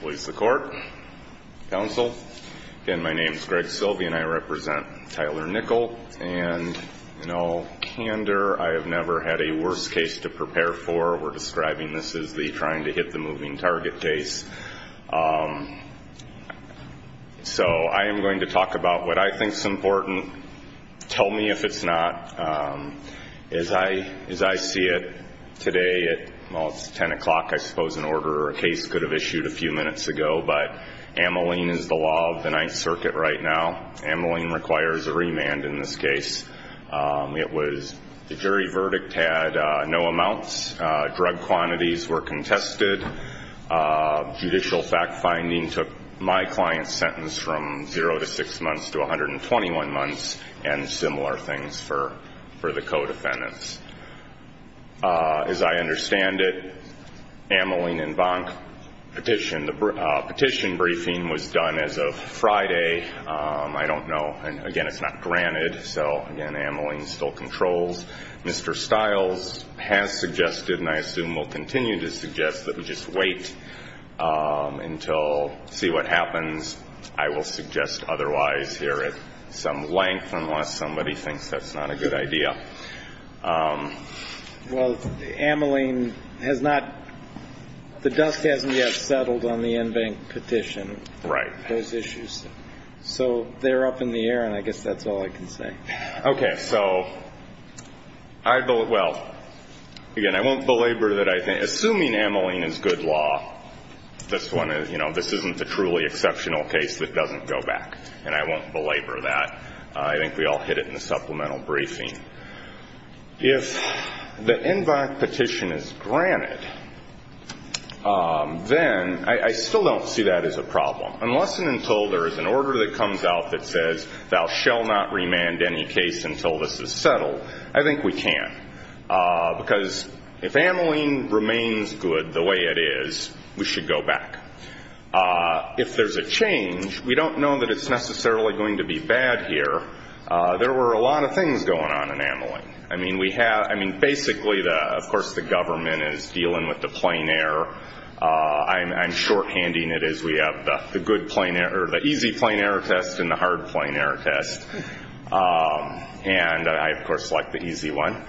Police, the court, counsel, again my name is Greg Sylvia and I represent Tyler Nichol and no candor I have never had a worse case to prepare for we're describing this as the trying to hit the moving target case so I am going to talk about what I think is important tell me if it's not as I as I see it today at 10 o'clock I suppose an order a case could have issued a few minutes ago but amylene is the law of the Ninth Circuit right now amylene requires a remand in this case it was the jury verdict had no amounts drug quantities were contested judicial fact-finding took my client's sentence from 0 to 6 months to 121 months and similar things for for the codefendants as I understand it amylene and bonk petition the petition briefing was done as of Friday I don't know and again it's not granted so again amylene still controls mr. Stiles has suggested and I assume will continue to suggest that we just wait until see what happens I will suggest otherwise here at some length unless somebody thinks that's not a good idea well amylene has not the dust hasn't yet settled on the in bank petition right those issues so they're up in the air and I guess that's all I can say okay so I vote well again I won't belabor that I think assuming amylene is good law this one is you know this isn't the truly exceptional case that doesn't go back and I won't belabor that I think we all hit it in the supplemental briefing if the in bank petition is granted then I still don't see that as a problem unless and until there is an order that comes out that says thou shall not remand any case until this is settled I think we can because if amylene remains good the way it is we should go back if there's a change we don't know that it's necessarily going to be bad here there were a lot of things going on in amylene I mean we have I mean basically the of course the government is dealing with the plane air I'm shorthanding it is we have the good plane air the easy plane air test in the hard plane air test and I of course like the easy one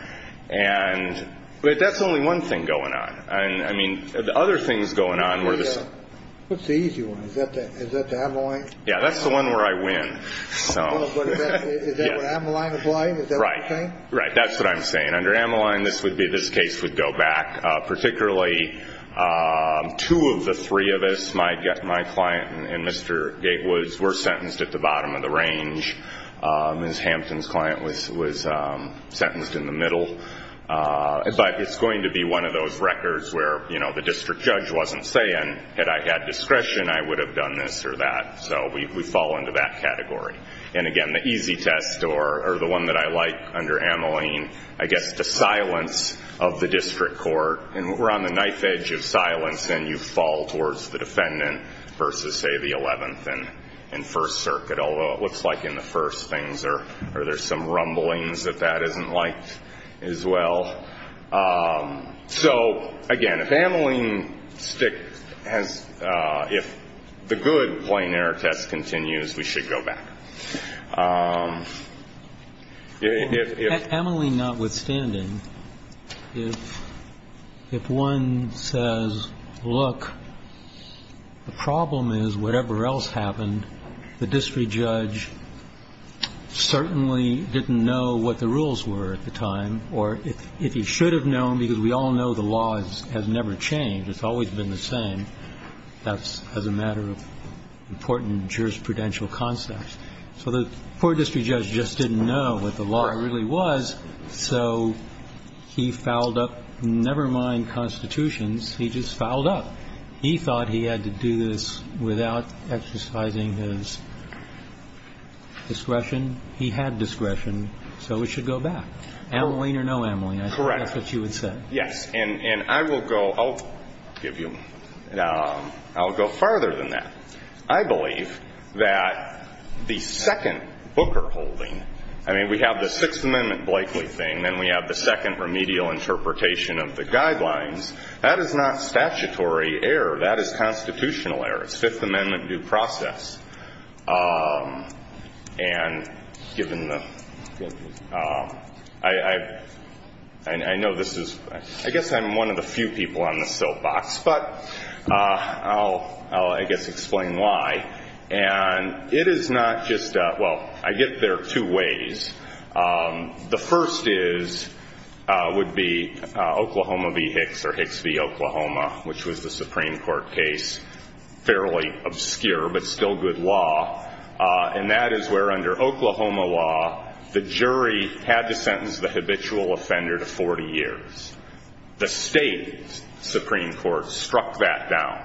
and but that's only one thing going on and I mean the other things going on where this what's the easy one yeah that's the one where I win right right that's what I'm saying under amylene this would be this case would go back particularly two of the three of us might get my client and mr. Gatewoods were sentenced at the bottom of the range miss Hampton's client was was sentenced in the middle but it's going to be one of those records where you know the district judge wasn't saying that I had discretion I would have done this or that so we fall into that category and again the easy test or the one that I like under amylene I guess the silence of the district court and we're on the knife edge of silence and you fall towards the defendant versus say the 11th and in First Circuit although it or there's some rumblings that that isn't like as well so again if amylene stick has if the good plane air test continues we should go back amylene not withstanding if if one says look the problem is whatever else happened the certainly didn't know what the rules were at the time or if if you should have known because we all know the laws has never changed it's always been the same that's as a matter of important jurisprudential concepts so the poor district judge just didn't know what the law really was so he fouled up never mind constitutions he just fouled up he thought he had to do this without exercising his discretion he had discretion so we should go back amylene or no amylene that's what you would say yes and and I will go I'll give you now I'll go farther than that I believe that the second Booker holding I mean we have the Sixth Amendment Blakeley thing then we have the second remedial interpretation of the guidelines that is not statutory error that is constitutional error it's Fifth Amendment due process and given the I I know this is I guess I'm one of the few people on the soapbox but I'll I guess explain why and it is not just well I get there two ways the first is would be Oklahoma v Hicks or fairly obscure but still good law and that is where under Oklahoma law the jury had to sentence the habitual offender to 40 years the state Supreme Court struck that down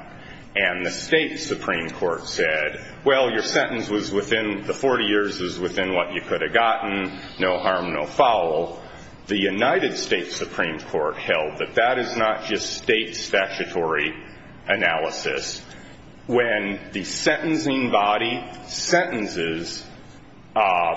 and the state Supreme Court said well your sentence was within the 40 years is within what you could have gotten no harm no foul the United States Supreme Court held that that is not just state statutory analysis when the sentencing body sentences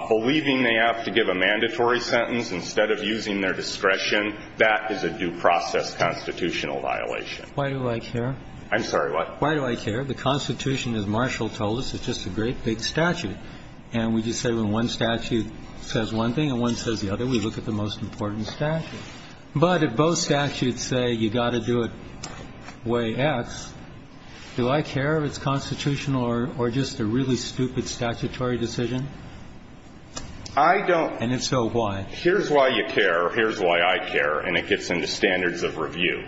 believing they have to give a mandatory sentence instead of using their discretion that is a due process constitutional violation why do I care I'm sorry what why do I care the Constitution is Marshall told us it's just a great big statute and we just say when one statute says one thing and one says the other we look at the most important statute but if both statutes say you got to do it way X do I care if it's constitutional or just a really stupid statutory decision I don't and if so why here's why you care here's why I care and it gets into standards of review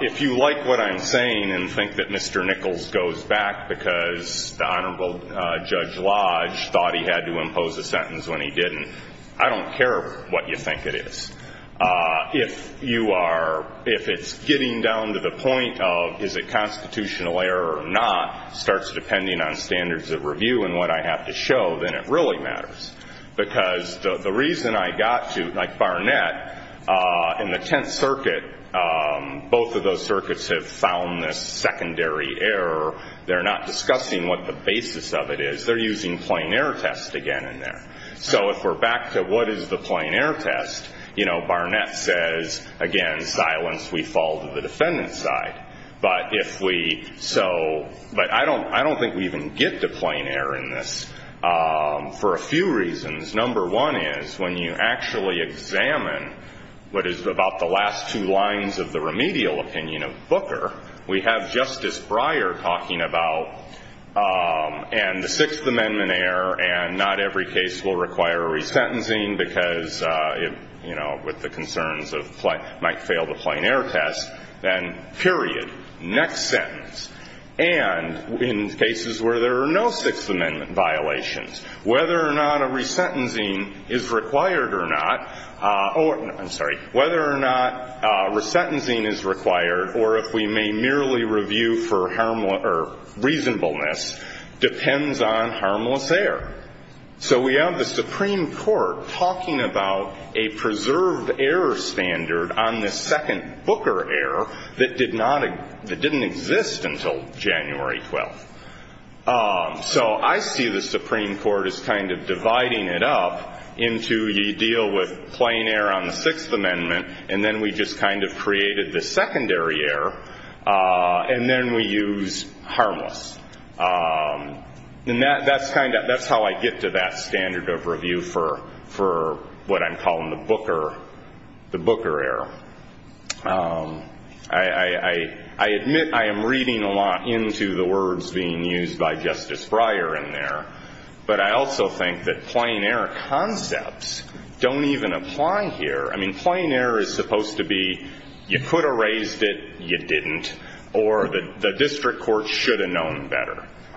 if you like what I'm saying and think that mr. Nichols goes back because the Honorable Judge Lodge thought he had to impose a sentence when he didn't I don't care what you think it is if you are if it's getting down to the point of is it constitutional error or not starts depending on standards of review and what I have to show then it really matters because the reason I got to like Barnett in the 10th circuit both of those circuits have found this secondary error they're not discussing what the basis of it is they're using plain air test again in there so if we're back to what is the plain air test you know Barnett says again silence we fall to the defendant's side but if we so but I don't I don't think we even get to plain air in this for a few reasons number one is when you actually examine what is about the last two lines of the remedial opinion of Booker we have Justice Breyer talking about and the Sixth Amendment error and not every case will require a resentencing because you know with the concerns of flight might fail to plain air test then period next sentence and in cases where there are no Sixth Amendment violations whether or not a resentencing is required or not or I'm sorry whether or not resentencing is required or if we may merely review for reasonableness depends on harmless air so we have the Supreme Court talking about a preserved error standard on the second Booker error that did not that didn't exist until January 12th so I see the Supreme Court is kind of dividing it up into you deal with plain air on the Sixth Amendment and then we just kind of harmless and that that's kind of that's how I get to that standard of review for for what I'm calling the Booker the Booker error I I admit I am reading a lot into the words being used by Justice Breyer in there but I also think that plain air concepts don't even apply here I mean plain air is supposed to be you better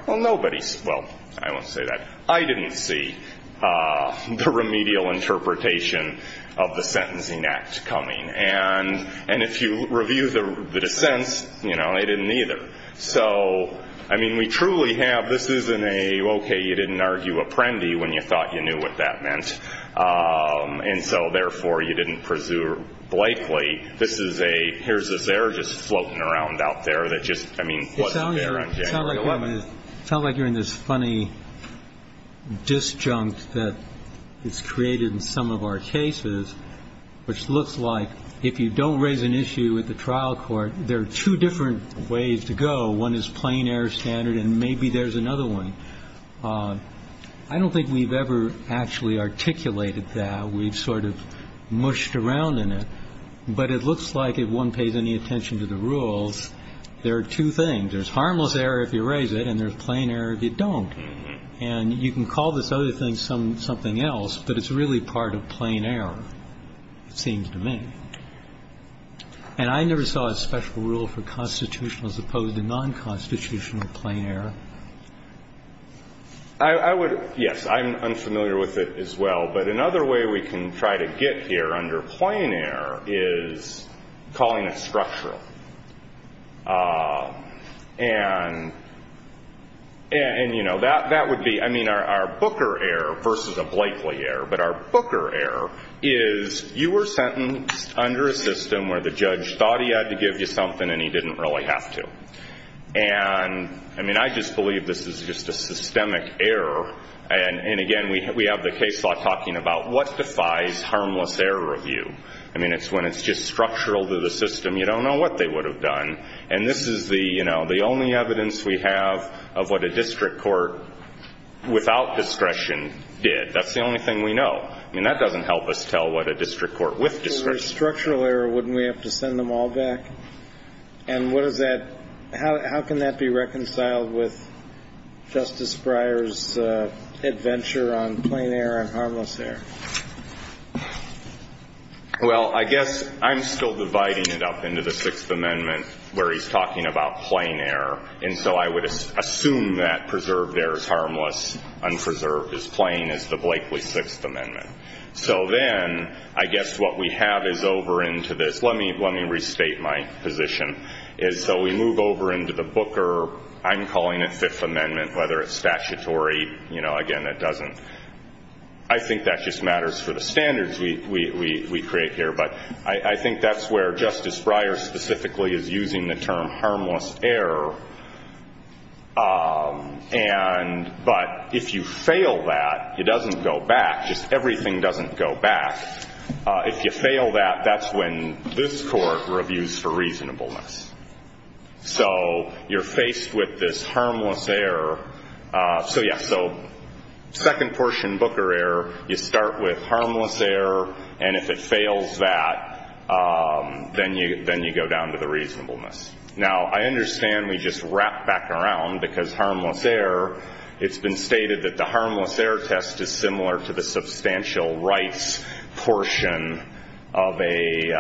well nobody's well I won't say that I didn't see the remedial interpretation of the Sentencing Act coming and and if you review the dissents you know I didn't either so I mean we truly have this isn't a okay you didn't argue a prende when you thought you knew what that meant and so therefore you didn't pursue Blakely this is a here's this error just floating around out there that just I mean it's not like you're in this funny disjunct that it's created in some of our cases which looks like if you don't raise an issue with the trial court there are two different ways to go one is plain air standard and maybe there's another one I don't think we've ever actually articulated that we've sort of mushed around in it but it looks like if one pays any attention to the rules there are two things there's harmless air if you raise it and there's plain air if you don't and you can call this other thing something else but it's really part of plain air it seems to me and I never saw a special rule for constitutional as opposed to non constitutional plain air I would yes I'm unfamiliar with it as well but another way we can try to get here under plain air is calling a structural and and you know that that would be I mean our Booker air versus a Blakely air but our Booker air is you were sentenced under a system where the judge thought he had to give you something and he didn't really have to and I mean I just believe this is just a systemic error and and again we have the case law talking about what defies harmless air review I mean it's when it's just structural to the system you don't know what they would have done and this is the you know the only evidence we have of what a district court without discretion did that's the only thing we know I mean that doesn't help us tell what a district court with district structural error wouldn't we have to send them all back and what is that how can that be reconciled with Justice Breyer's adventure on plain air and harmless air well I guess I'm still dividing it up into the Sixth Amendment where he's talking about plain air and so I would assume that preserved there is harmless unpreserved is playing as the Blakely Sixth Amendment so then I guess what we have is over into this let me let me restate my position is so we move over into the booker I'm calling it Fifth Amendment whether it's statutory you know again that doesn't I think that just matters for the standards we create here but I think that's where Justice Breyer specifically is using the term harmless air and but if you fail that it doesn't go back just everything doesn't go back if you fail that that's when this court reviews for so you're faced with this harmless air so yeah so second portion booker air you start with harmless air and if it fails that then you then you go down to the reasonableness now I understand we just wrap back around because harmless air it's been stated that the harmless air test is similar to the substantial rights portion of a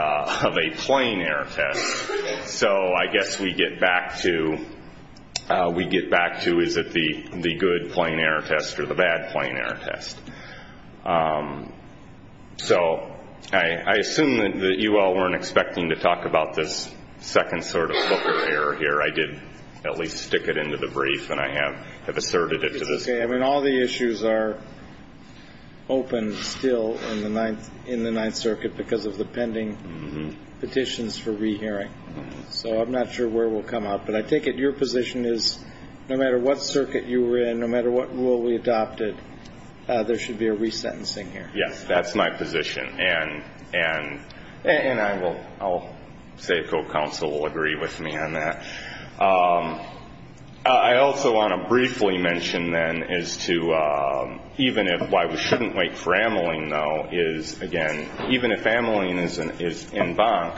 of a plain air test so I guess we get back to we get back to is it the the good plain air test or the bad plain air test so I assume that you all weren't expecting to talk about this second sort of booker air here I did at least stick it into the brief and I have have asserted it to this day I mean all the issues are open still in the ninth in the Ninth Circuit because of the pending petitions for rehearing so I'm not sure where we'll come up but I take it your position is no matter what circuit you were in no matter what rule we adopted there should be a resentencing here yes that's my position and and and I will I'll say if co-counsel will agree with me on that I also want to briefly mention then is to even if why we shouldn't wait for amyling though is again even if amyling isn't is in bunk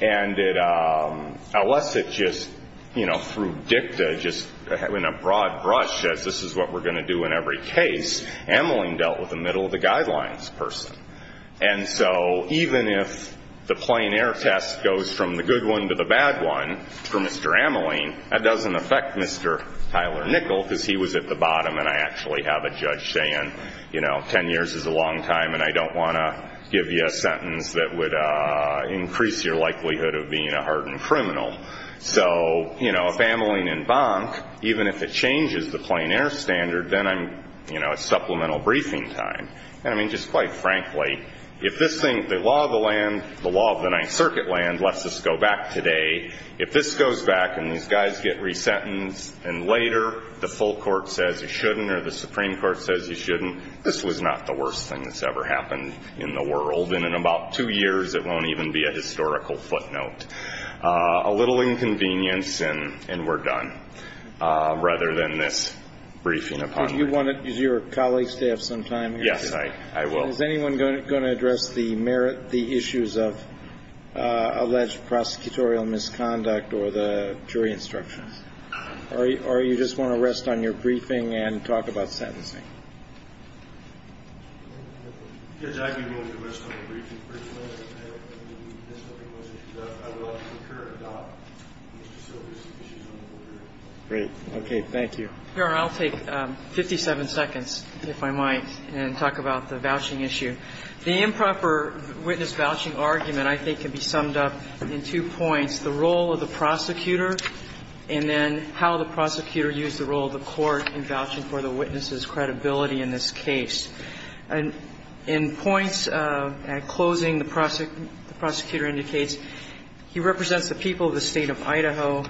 and it unless it just you know through dicta just having a broad brush as this is what we're going to do in every case amyling dealt with the middle of the guidelines person and so even if the plain air test goes from the good one to the bad one for mr. amyling that doesn't affect mr. Tyler nickel because he was at the bottom and I actually have a judge saying you know ten years is a long time and I don't want to give you a sentence that would increase your likelihood of being a hardened criminal so you know if amyling in bunk even if it changes the plain air standard then I'm you know a supplemental briefing time and I mean just quite frankly if this thing the law of the land the law of the Ninth Circuit land lets us go back today if this goes back and these guys get resentenced and later the full court says he shouldn't or the Supreme Court says he shouldn't this was not the worst thing that's ever happened in the world and in about two years it won't even be a historical footnote a little inconvenience and and we're done rather than this briefing upon you want it is your colleagues to have some time yes I will is anyone going to address the merit the issues of alleged prosecutorial misconduct or the jury instructions or you just want to rest on your briefing and talk about sentencing great okay thank you here I'll take 57 seconds if I might and talk about the vouching issue the improper witness vouching argument I think can be summed up in two points the role of the prosecutor and then how the prosecutor used the role of the court in vouching for the witnesses credibility in this case and in points at closing the prosecutor the prosecutor indicates he represents the people of the state of Idaho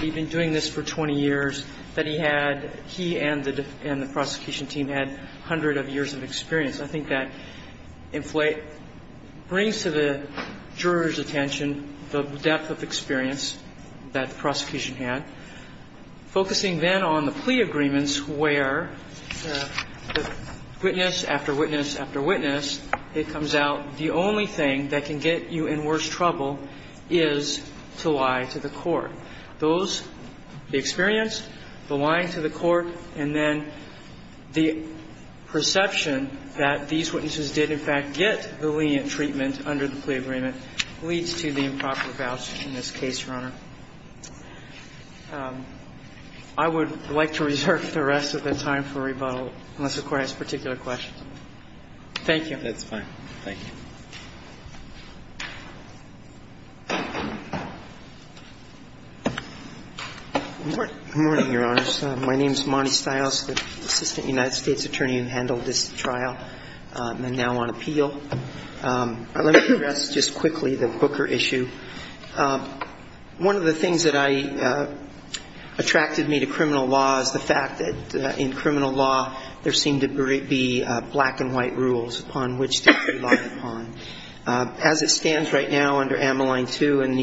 we've been doing this for 20 years that he had he and the and the appearance I think that inflate brings to the jurors attention the depth of experience that the prosecution had focusing then on the plea agreements where the witness after witness after witness it comes out the only thing that can get you in worse trouble is to lie to the court those the experience the line to the court and then the perception that these witnesses did in fact get the lenient treatment under the plea agreement leads to the improper vouchers in this case your honor. I would like to reserve the rest of the time for rebuttal unless the court has particular questions. Thank you. That's fine. Thank you. Good morning your honors. My name's Richard. I'm the United States attorney who handled this trial. I'm now on appeal. Let me address just quickly the Booker issue. One of the things that I attracted me to criminal law is the fact that in criminal law there seemed to be black and white rules upon which to rely upon. As it stands right now under Ameline 2 and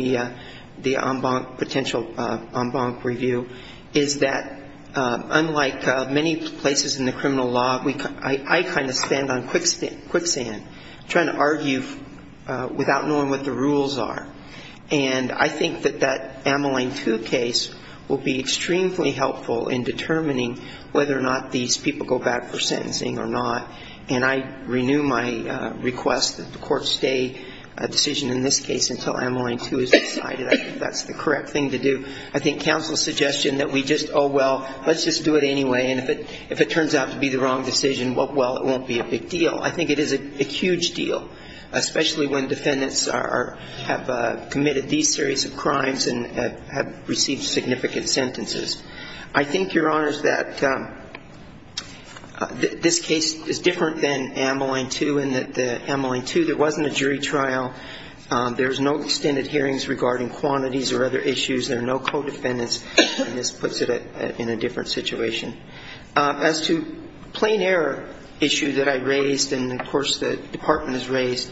the en banc potential en banc review is that unlike many places in the criminal law I kind of stand on quicksand trying to argue without knowing what the rules are. And I think that that Ameline 2 case will be extremely helpful in determining whether or not these people go back for sentencing or not. And I renew my request that the court I think counsel's suggestion that we just, oh well, let's just do it anyway. And if it turns out to be the wrong decision, well, it won't be a big deal. I think it is a huge deal, especially when defendants are, have committed these series of crimes and have received significant sentences. I think, your honors, that this case is different than Ameline 2 in that Ameline 2 there wasn't a jury trial. There's no extended hearings regarding quantities or other issues. There are no co-defendants. And this puts it in a different situation. As to plain error issue that I raised, and of course the department has raised,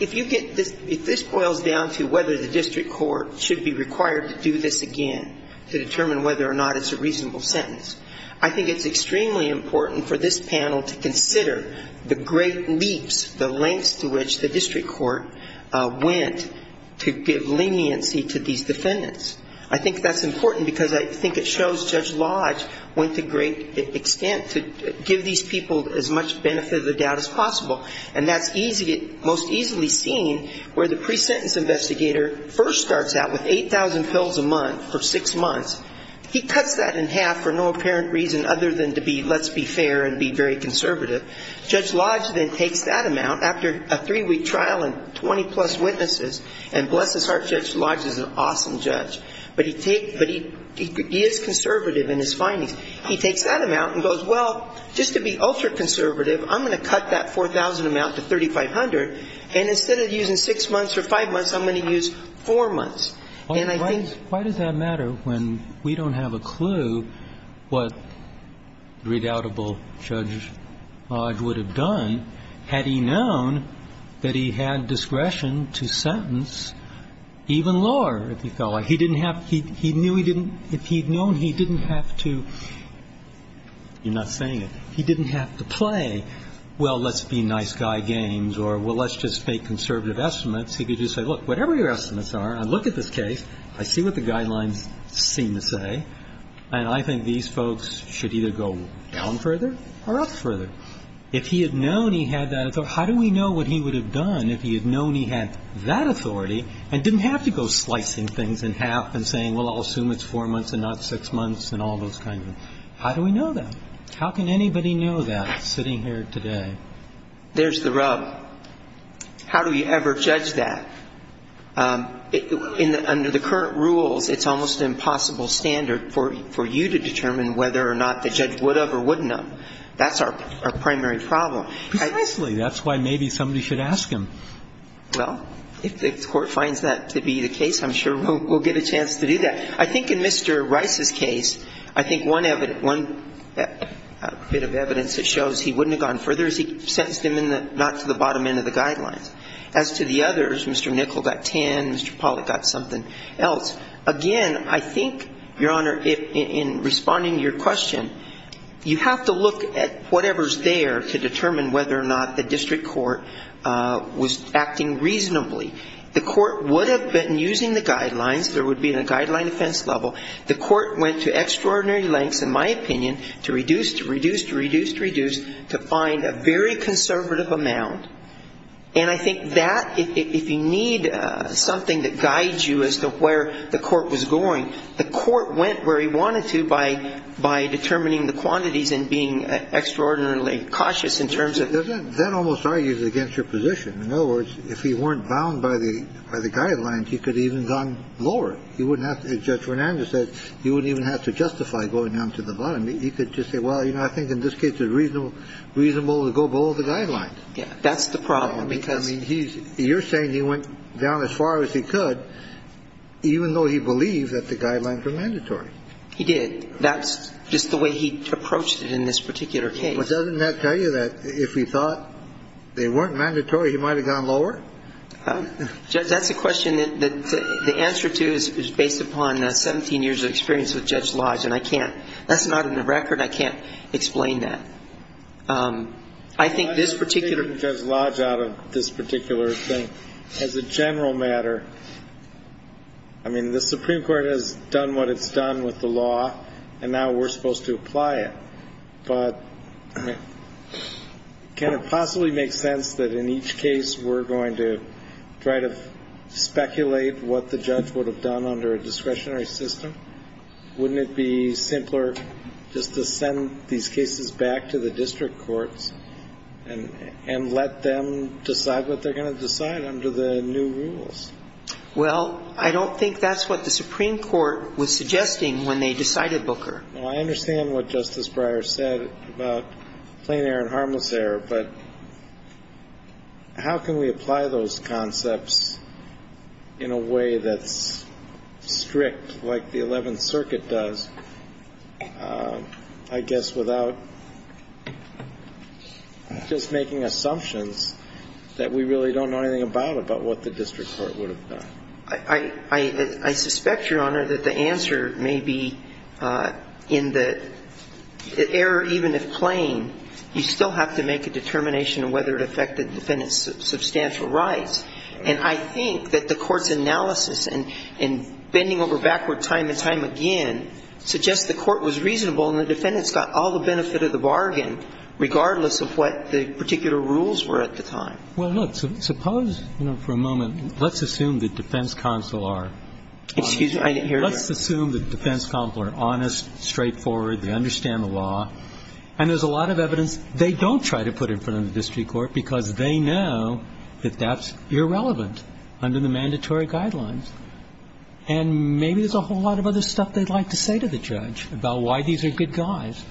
if you get this, if this boils down to whether the district court should be required to do this again to determine whether or not it's a reasonable sentence, I think it's extremely important for this panel to consider the great leaps, the lengths to which the district court went to give leniency to these defendants. I think that's important because I think it shows Judge Lodge went to great extent to give these people as much benefit of the doubt as possible. And that's most easily seen where the pre-sentence investigator first starts out with 8,000 pills a month for six months. He cuts that in half for no apparent reason other than to be, let's be fair and be very conservative. Judge Lodge then takes that amount after a three-week trial and 20-plus witnesses. And bless his heart, Judge Lodge is an awesome judge. But he is conservative in his findings. He takes that amount and goes, well, just to be ultra-conservative, I'm going to cut that 4,000 amount to 3,500. And instead of using six months or five months, I'm going to use four months. And I think the question is, why does that matter when we don't have a clue what the redoubtable Judge Lodge would have done had he known that he had discretion to sentence even lower if he felt like. He didn't have to. He knew he didn't. If he had known he didn't have to, you're not saying it, he didn't have to play, well, let's be nice guy games or, well, let's just make conservative estimates. He could just say, look, whatever your estimates are, I look at this case, I see what the guidelines seem to say, and I think these folks should either go down further or up further. If he had known he had that authority, how do we know what he would have done if he had known he had that authority and didn't have to go slicing things in half and saying, well, I'll assume it's four months and not six months and all those kinds of things? How do we know that? How can anybody know that sitting here today? There's the rub. How do you ever judge that? Under the current rules, it's almost an impossible standard for you to determine whether or not the judge would have or wouldn't have. That's our primary problem. Precisely. That's why maybe somebody should ask him. Well, if the Court finds that to be the case, I'm sure we'll get a chance to do that. I think in Mr. Rice's case, I think one bit of evidence that shows he wouldn't have gone further is he sentenced him not to the bottom end of the guidelines. As to the others, Mr. Nickel got 10, Mr. Pollack got something else. Again, I think, Your Honor, in responding to your question, you have to look at whatever's there to determine whether or not the district court was acting reasonably. The court would have been using the guidelines. There would be a guideline offense level. The court went to extraordinary lengths, in my opinion, to reduce, to reduce, to reduce, to find a very conservative amount. And I think that, if you need something that guides you as to where the court was going, the court went where he wanted to by determining the quantities and being extraordinarily cautious in terms of the... That almost argues against your position. In other words, if he weren't bound by the guidelines, he could have even gone lower. He wouldn't have to, as Judge Fernandez said, he wouldn't even have to justify going down to the bottom. He could just say, well, you know, I think in this case it's reasonable, reasonable to go below the guidelines. Yeah. That's the problem because... I mean, he's, you're saying he went down as far as he could, even though he believed that the guidelines were mandatory. He did. That's just the way he approached it in this particular case. Well, doesn't that tell you that if he thought they weren't mandatory, he might have gone lower? Judge, that's a question that the answer to is based upon 17 years of experience with Judge Lodge, and I can't. That's not in the record. I can't explain that. I'm just taking Judge Lodge out of this particular thing. As a general matter, I mean, the Supreme Court has done what it's done with the law, and now we're supposed to apply it. But can it possibly make sense that in each case we're going to try to speculate what the judge would have done under a discretionary system? Wouldn't it be simpler just to send these cases back to the district courts and let them decide what they're going to decide under the new rules? Well, I don't think that's what the Supreme Court was suggesting when they decided Booker. Well, I understand what Justice Breyer said about plain error and harmless error, but how can we apply those concepts in a way that's strict, like the Eleventh Circuit does, I guess without just making assumptions that we really don't know anything about, about what the district court would have done? I suspect, Your Honor, that the answer may be in the error, even if plain, you still have to make a determination of whether it affected the defendant's substantial rights. And I think that the Court's analysis in bending over backward time and time again suggests the Court was reasonable and the defendants got all the benefit of the bargain, regardless of what the particular rules were at the time. Well, look, suppose, you know, for a moment, let's assume the defense counsel are honest. Excuse me, I didn't hear that. Let's assume the defense counsel are honest, straightforward, they understand the law. And there's a lot of evidence they don't try to put in front of the district court because they know that that's irrelevant under the mandatory guidelines. And maybe there's a whole lot of other stuff they'd like to say to the judge about why these are good guys. It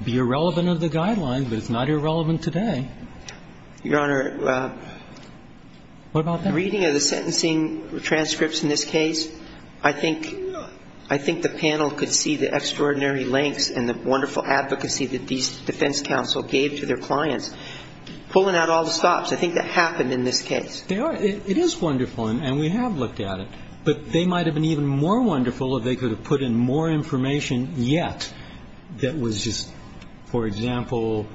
would be irrelevant under the guidelines, but it's not irrelevant today. Your Honor, reading of the sentencing transcripts in this case, I think the panel could see the extraordinary lengths and the wonderful advocacy that these defense counsel gave to their clients, pulling out all the stops. I think that happened in this case. They are. It is wonderful, and we have looked at it. But they might have been even more wonderful if they could have put in more information yet that was just, for example,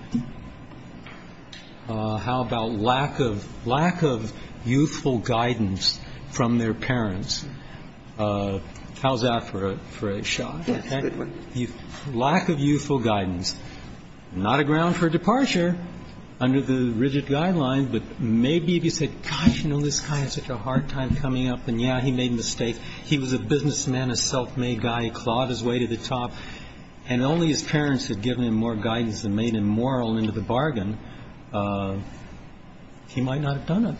how about lack of youthful guidance from their parents. How's that for a shot? Yes, good one. Lack of youthful guidance. Not a ground for departure under the rigid guidelines, but maybe if you said, gosh, you know, this guy had such a hard time coming up, and, yeah, he made a mistake, he was a businessman, a self-made guy, he clawed his way to the top, and only his parents had given him more guidance than made him moral into the bargain, he might not have done it.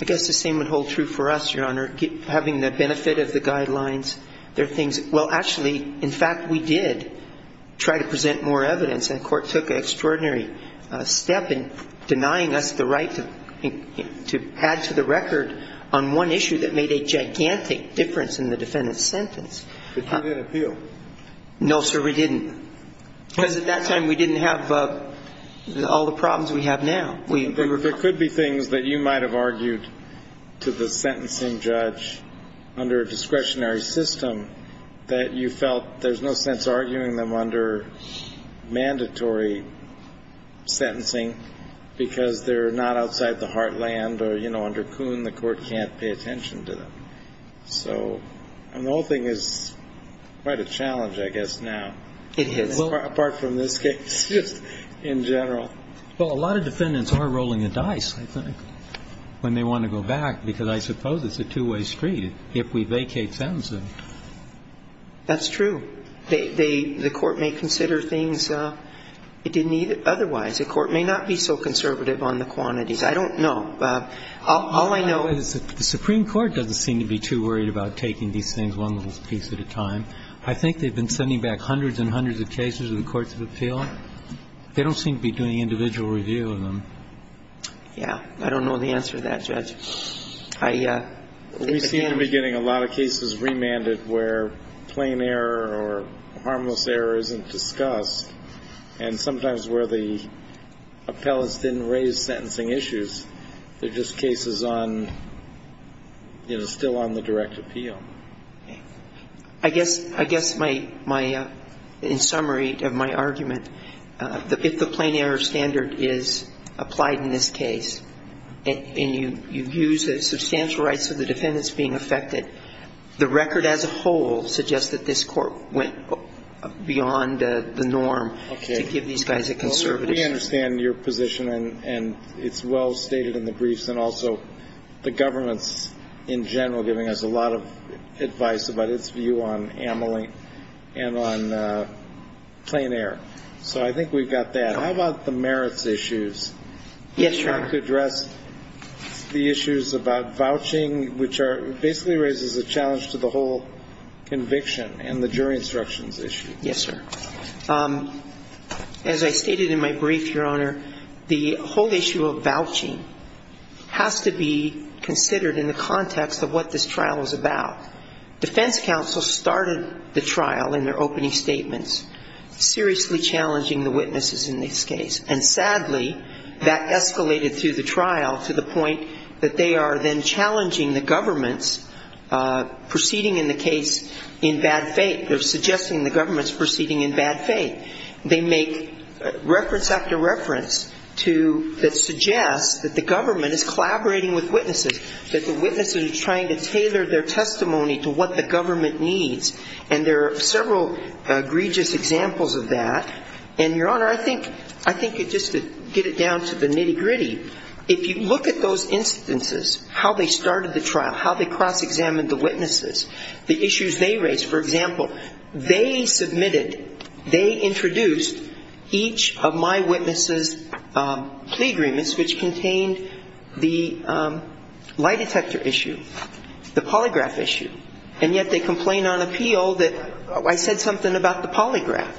I guess the same would hold true for us, Your Honor, having the benefit of the guidelines. There are things, well, actually, in fact, we did try to present more evidence, and the Court took an extraordinary step in denying us the right to add to the record on one issue that made a gigantic difference in the defendant's sentence. But you didn't appeal. No, sir, we didn't. Because at that time we didn't have all the problems we have now. There could be things that you might have argued to the sentencing judge under a discretionary system that you felt there's no sense arguing them under mandatory sentencing because they're not outside the heartland or, you know, under Coon, the Court can't pay attention to them. So the whole thing is quite a challenge, I guess, now. It is. Apart from this case, just in general. Well, a lot of defendants are rolling the dice, I think, when they want to go back because I suppose it's a two-way street if we vacate sentencing. That's true. The Court may consider things it didn't either otherwise. The Court may not be so conservative on the quantities. I don't know. All I know is that the Supreme Court doesn't seem to be too worried about taking these things one little piece at a time. of appeal. They don't seem to be doing individual review of them. Yeah. I don't know the answer to that, Judge. We see in the beginning a lot of cases remanded where plain error or harmless error isn't discussed and sometimes where the appellants didn't raise sentencing issues. They're just cases on, you know, still on the direct appeal. I guess my, in summary of my argument, if the plain error standard is applied in this case and you use the substantial rights of the defendants being affected, the record as a whole suggests that this Court went beyond the norm to give these guys a conservatism. Okay. Well, we understand your position and it's well stated in the briefs and also the government's in general giving us a lot of advice about its view on amelie and on plain error. So I think we've got that. How about the merits issues? Yes, sir. To address the issues about vouching, which are basically raises a challenge to the whole conviction and the jury instructions issue. Yes, sir. As I stated in my brief, Your Honor, the whole issue of vouching has to be considered in the context of what this trial is about. Defense counsel started the trial in their opening statements, seriously challenging the witnesses in this case. And sadly, that escalated through the trial to the point that they are then challenging the government's proceeding in the case in bad faith. They're suggesting the government's proceeding in bad faith. They make reference after reference to, that suggests that the government is trying to tailor their testimony to what the government needs. And there are several egregious examples of that. And, Your Honor, I think just to get it down to the nitty-gritty, if you look at those instances, how they started the trial, how they cross-examined the witnesses, the issues they raised. For example, they submitted, they introduced each of my witnesses' plea agreements, which contained the lie detector issue, the polygraph issue. And yet they complain on appeal that I said something about the polygraph.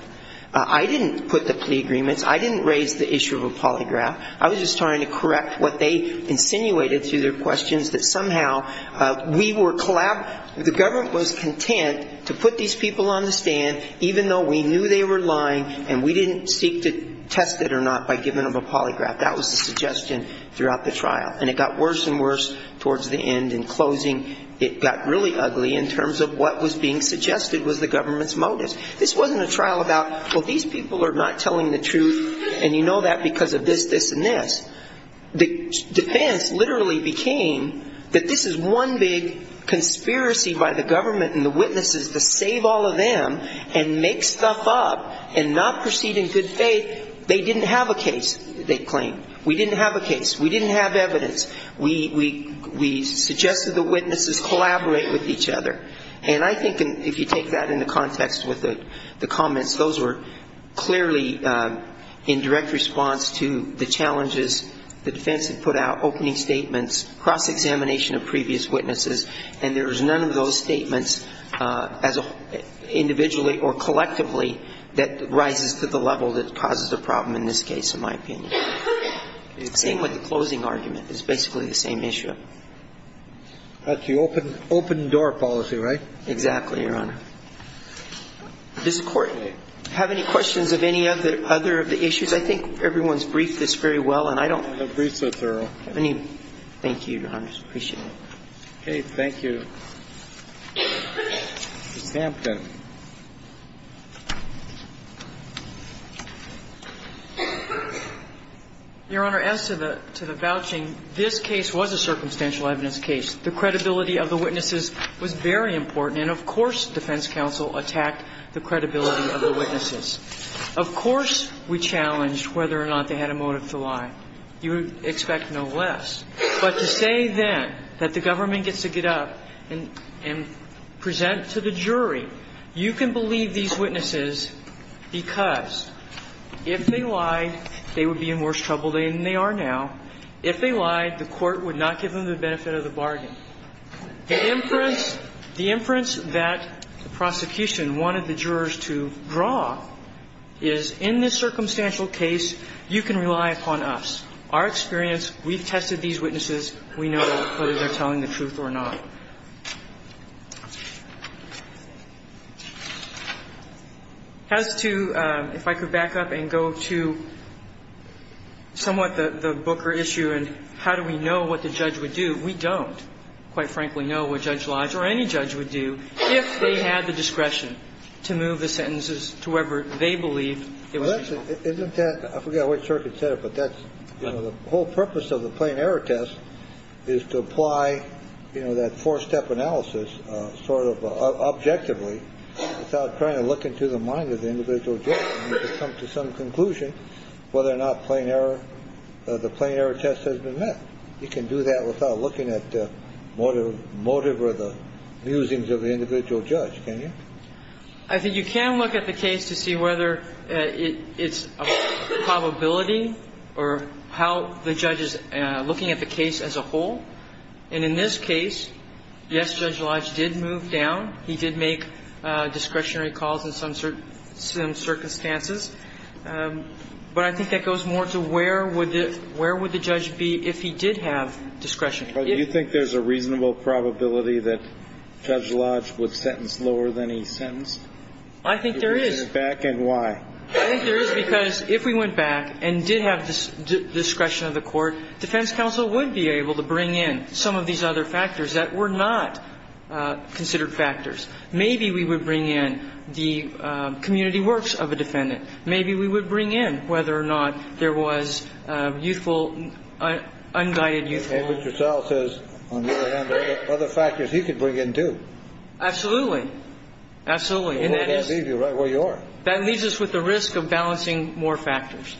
I didn't put the plea agreements. I didn't raise the issue of a polygraph. I was just trying to correct what they insinuated through their questions, that somehow we were, the government was content to put these people on the stand, even though we knew they were lying and we didn't seek to test it or not by giving them a polygraph. That was the suggestion throughout the trial. And it got worse and worse towards the end. In closing, it got really ugly in terms of what was being suggested was the government's motives. This wasn't a trial about, well, these people are not telling the truth, and you know that because of this, this, and this. The defense literally became that this is one big conspiracy by the government and the witnesses to save all of them and make stuff up and not proceed in good faith. They didn't have a case, they claimed. We didn't have a case. We didn't have evidence. We suggested the witnesses collaborate with each other. And I think if you take that into context with the comments, those were clearly in direct response to the challenges the defense had put out, opening statements, cross-examination of previous witnesses, and there was none of those statements individually or collectively that rises to the level that causes a problem in this case, in my opinion. It's the same with the closing argument. It's basically the same issue. That's the open door policy, right? Exactly, Your Honor. Does the Court have any questions of any other of the issues? I think everyone's briefed this very well, and I don't have any. Thank you, Your Honor. I appreciate it. Okay. Thank you. Ms. Hampton. Your Honor, as to the vouching, this case was a circumstantial evidence case. The credibility of the witnesses was very important, and of course defense counsel attacked the credibility of the witnesses. Of course we challenged whether or not they had a motive to lie. You would expect no less. But to say then that the government gets to get up and present to the jury, you can believe these witnesses because if they lied, they would be in worse trouble than they are now. If they lied, the Court would not give them the benefit of the bargain. The inference that the prosecution wanted the jurors to draw is in this circumstantial case, you can rely upon us. Our experience, we've tested these witnesses. We know whether they're telling the truth or not. As to, if I could back up and go to somewhat the Booker issue and how do we know what the judge would do, we don't, quite frankly, know what Judge Lodge or any judge would do if they had the discretion to move the sentences to whoever they believe it was useful. Well that's, I forgot which circuit said it, but that's, the whole purpose of the plain error test is to apply, you know, that four-step analysis sort of objectively without trying to look into the mind of the individual judge to come to some conclusion whether or not the plain error test has been met. You can do that without looking at the motive or the musings of the individual judge, can you? I think you can look at the case to see whether it's a probability or how the judge is looking at the case as a whole. And in this case, yes, Judge Lodge did move down. He did make discretionary calls in some circumstances. But I think that goes more to where would the judge be if he did have discretion. Do you think there's a reasonable probability that Judge Lodge would sentence lower than he sentenced? I think there is. If he went back, and why? I think there is because if we went back and did have discretion of the court, defense counsel would be able to bring in some of these other factors that were not considered factors. Maybe we would bring in the community works of a defendant. Maybe we would bring in whether or not there was youthful, unguided youthful the fact that the law is there, that's all. And Mr. Searle says, on the other hand, there are other factors he could bring in, too. Absolutely. Absolutely. And that is. That leaves you right where you are. That leaves us with the risk of balancing more factors.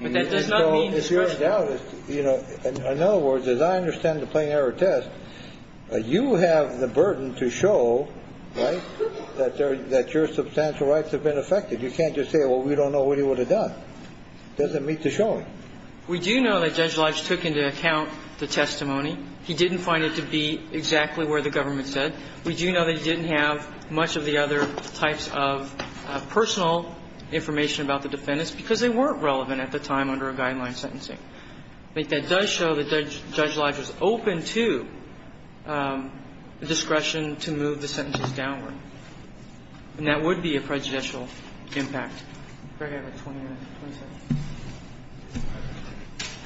But that does not mean discretion. In other words, as I understand the plain error test, you have the burden to show, right, that your substantial rights have been affected. You can't just say, well, we don't know what he would have done. It doesn't meet the showing. We do know that Judge Lodge took into account the testimony. He didn't find it to be exactly where the government said. We do know that he didn't have much of the other types of personal information about the defendants because they weren't relevant at the time under a guideline sentencing. But that does show that Judge Lodge was open to discretion to move the sentences downward. And that would be a prejudicial impact.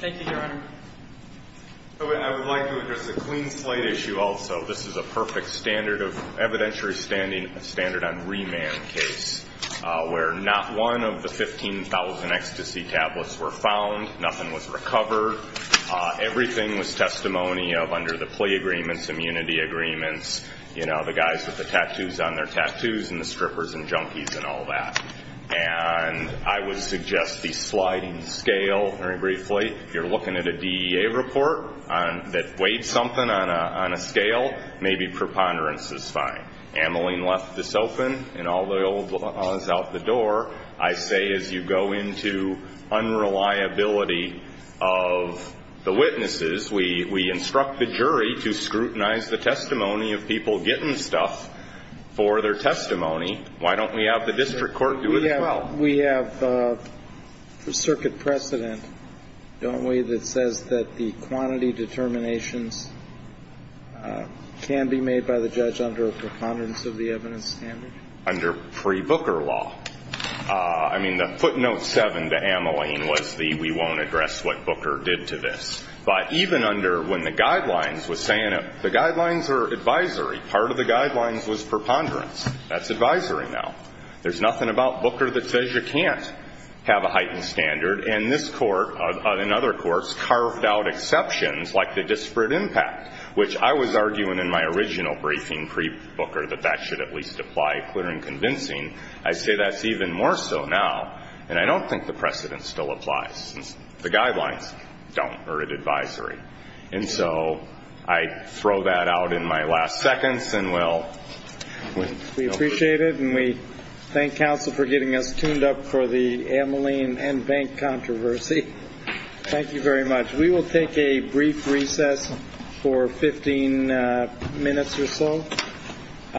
Thank you, Your Honor. I would like to address a clean slate issue also. This is a perfect standard of evidentiary standing, a standard on remand case, where not one of the 15,000 ecstasy tablets were found, nothing was recovered, everything was testimony of under the plea agreements, immunity agreements, you know, the guys with the tattoos on their tattoos and the strippers and junkies and all that. And I would suggest the sliding scale very briefly. If you're looking at a DEA report that weighed something on a scale, maybe preponderance is fine. Ameline left this open and all the old laws out the door. I say as you go into unreliability of the witnesses, we instruct the jury to scrutinize the testimony of people getting stuff for their testimony. Why don't we have the district court do it as well? We have circuit precedent, don't we, that says that the quantity determinations can be made by the judge under a preponderance of the evidence standard? Under pre-Booker law. I mean, the footnote 7 to Ameline was the we won't address what Booker did to this. But even under when the guidelines were saying the guidelines are advisory, part of the guidelines was preponderance. That's advisory now. There's nothing about Booker that says you can't have a heightened standard. And this Court and other courts carved out exceptions like the disparate impact, which I was arguing in my original briefing pre-Booker that that should at least apply clear and convincing. I say that's even more so now. And I don't think the precedent still applies. The guidelines don't. They're an advisory. And so I throw that out in my last seconds and we'll. We appreciate it. And we thank counsel for getting us tuned up for the Ameline and bank controversy. Thank you very much. We will take a brief recess for 15 minutes or so.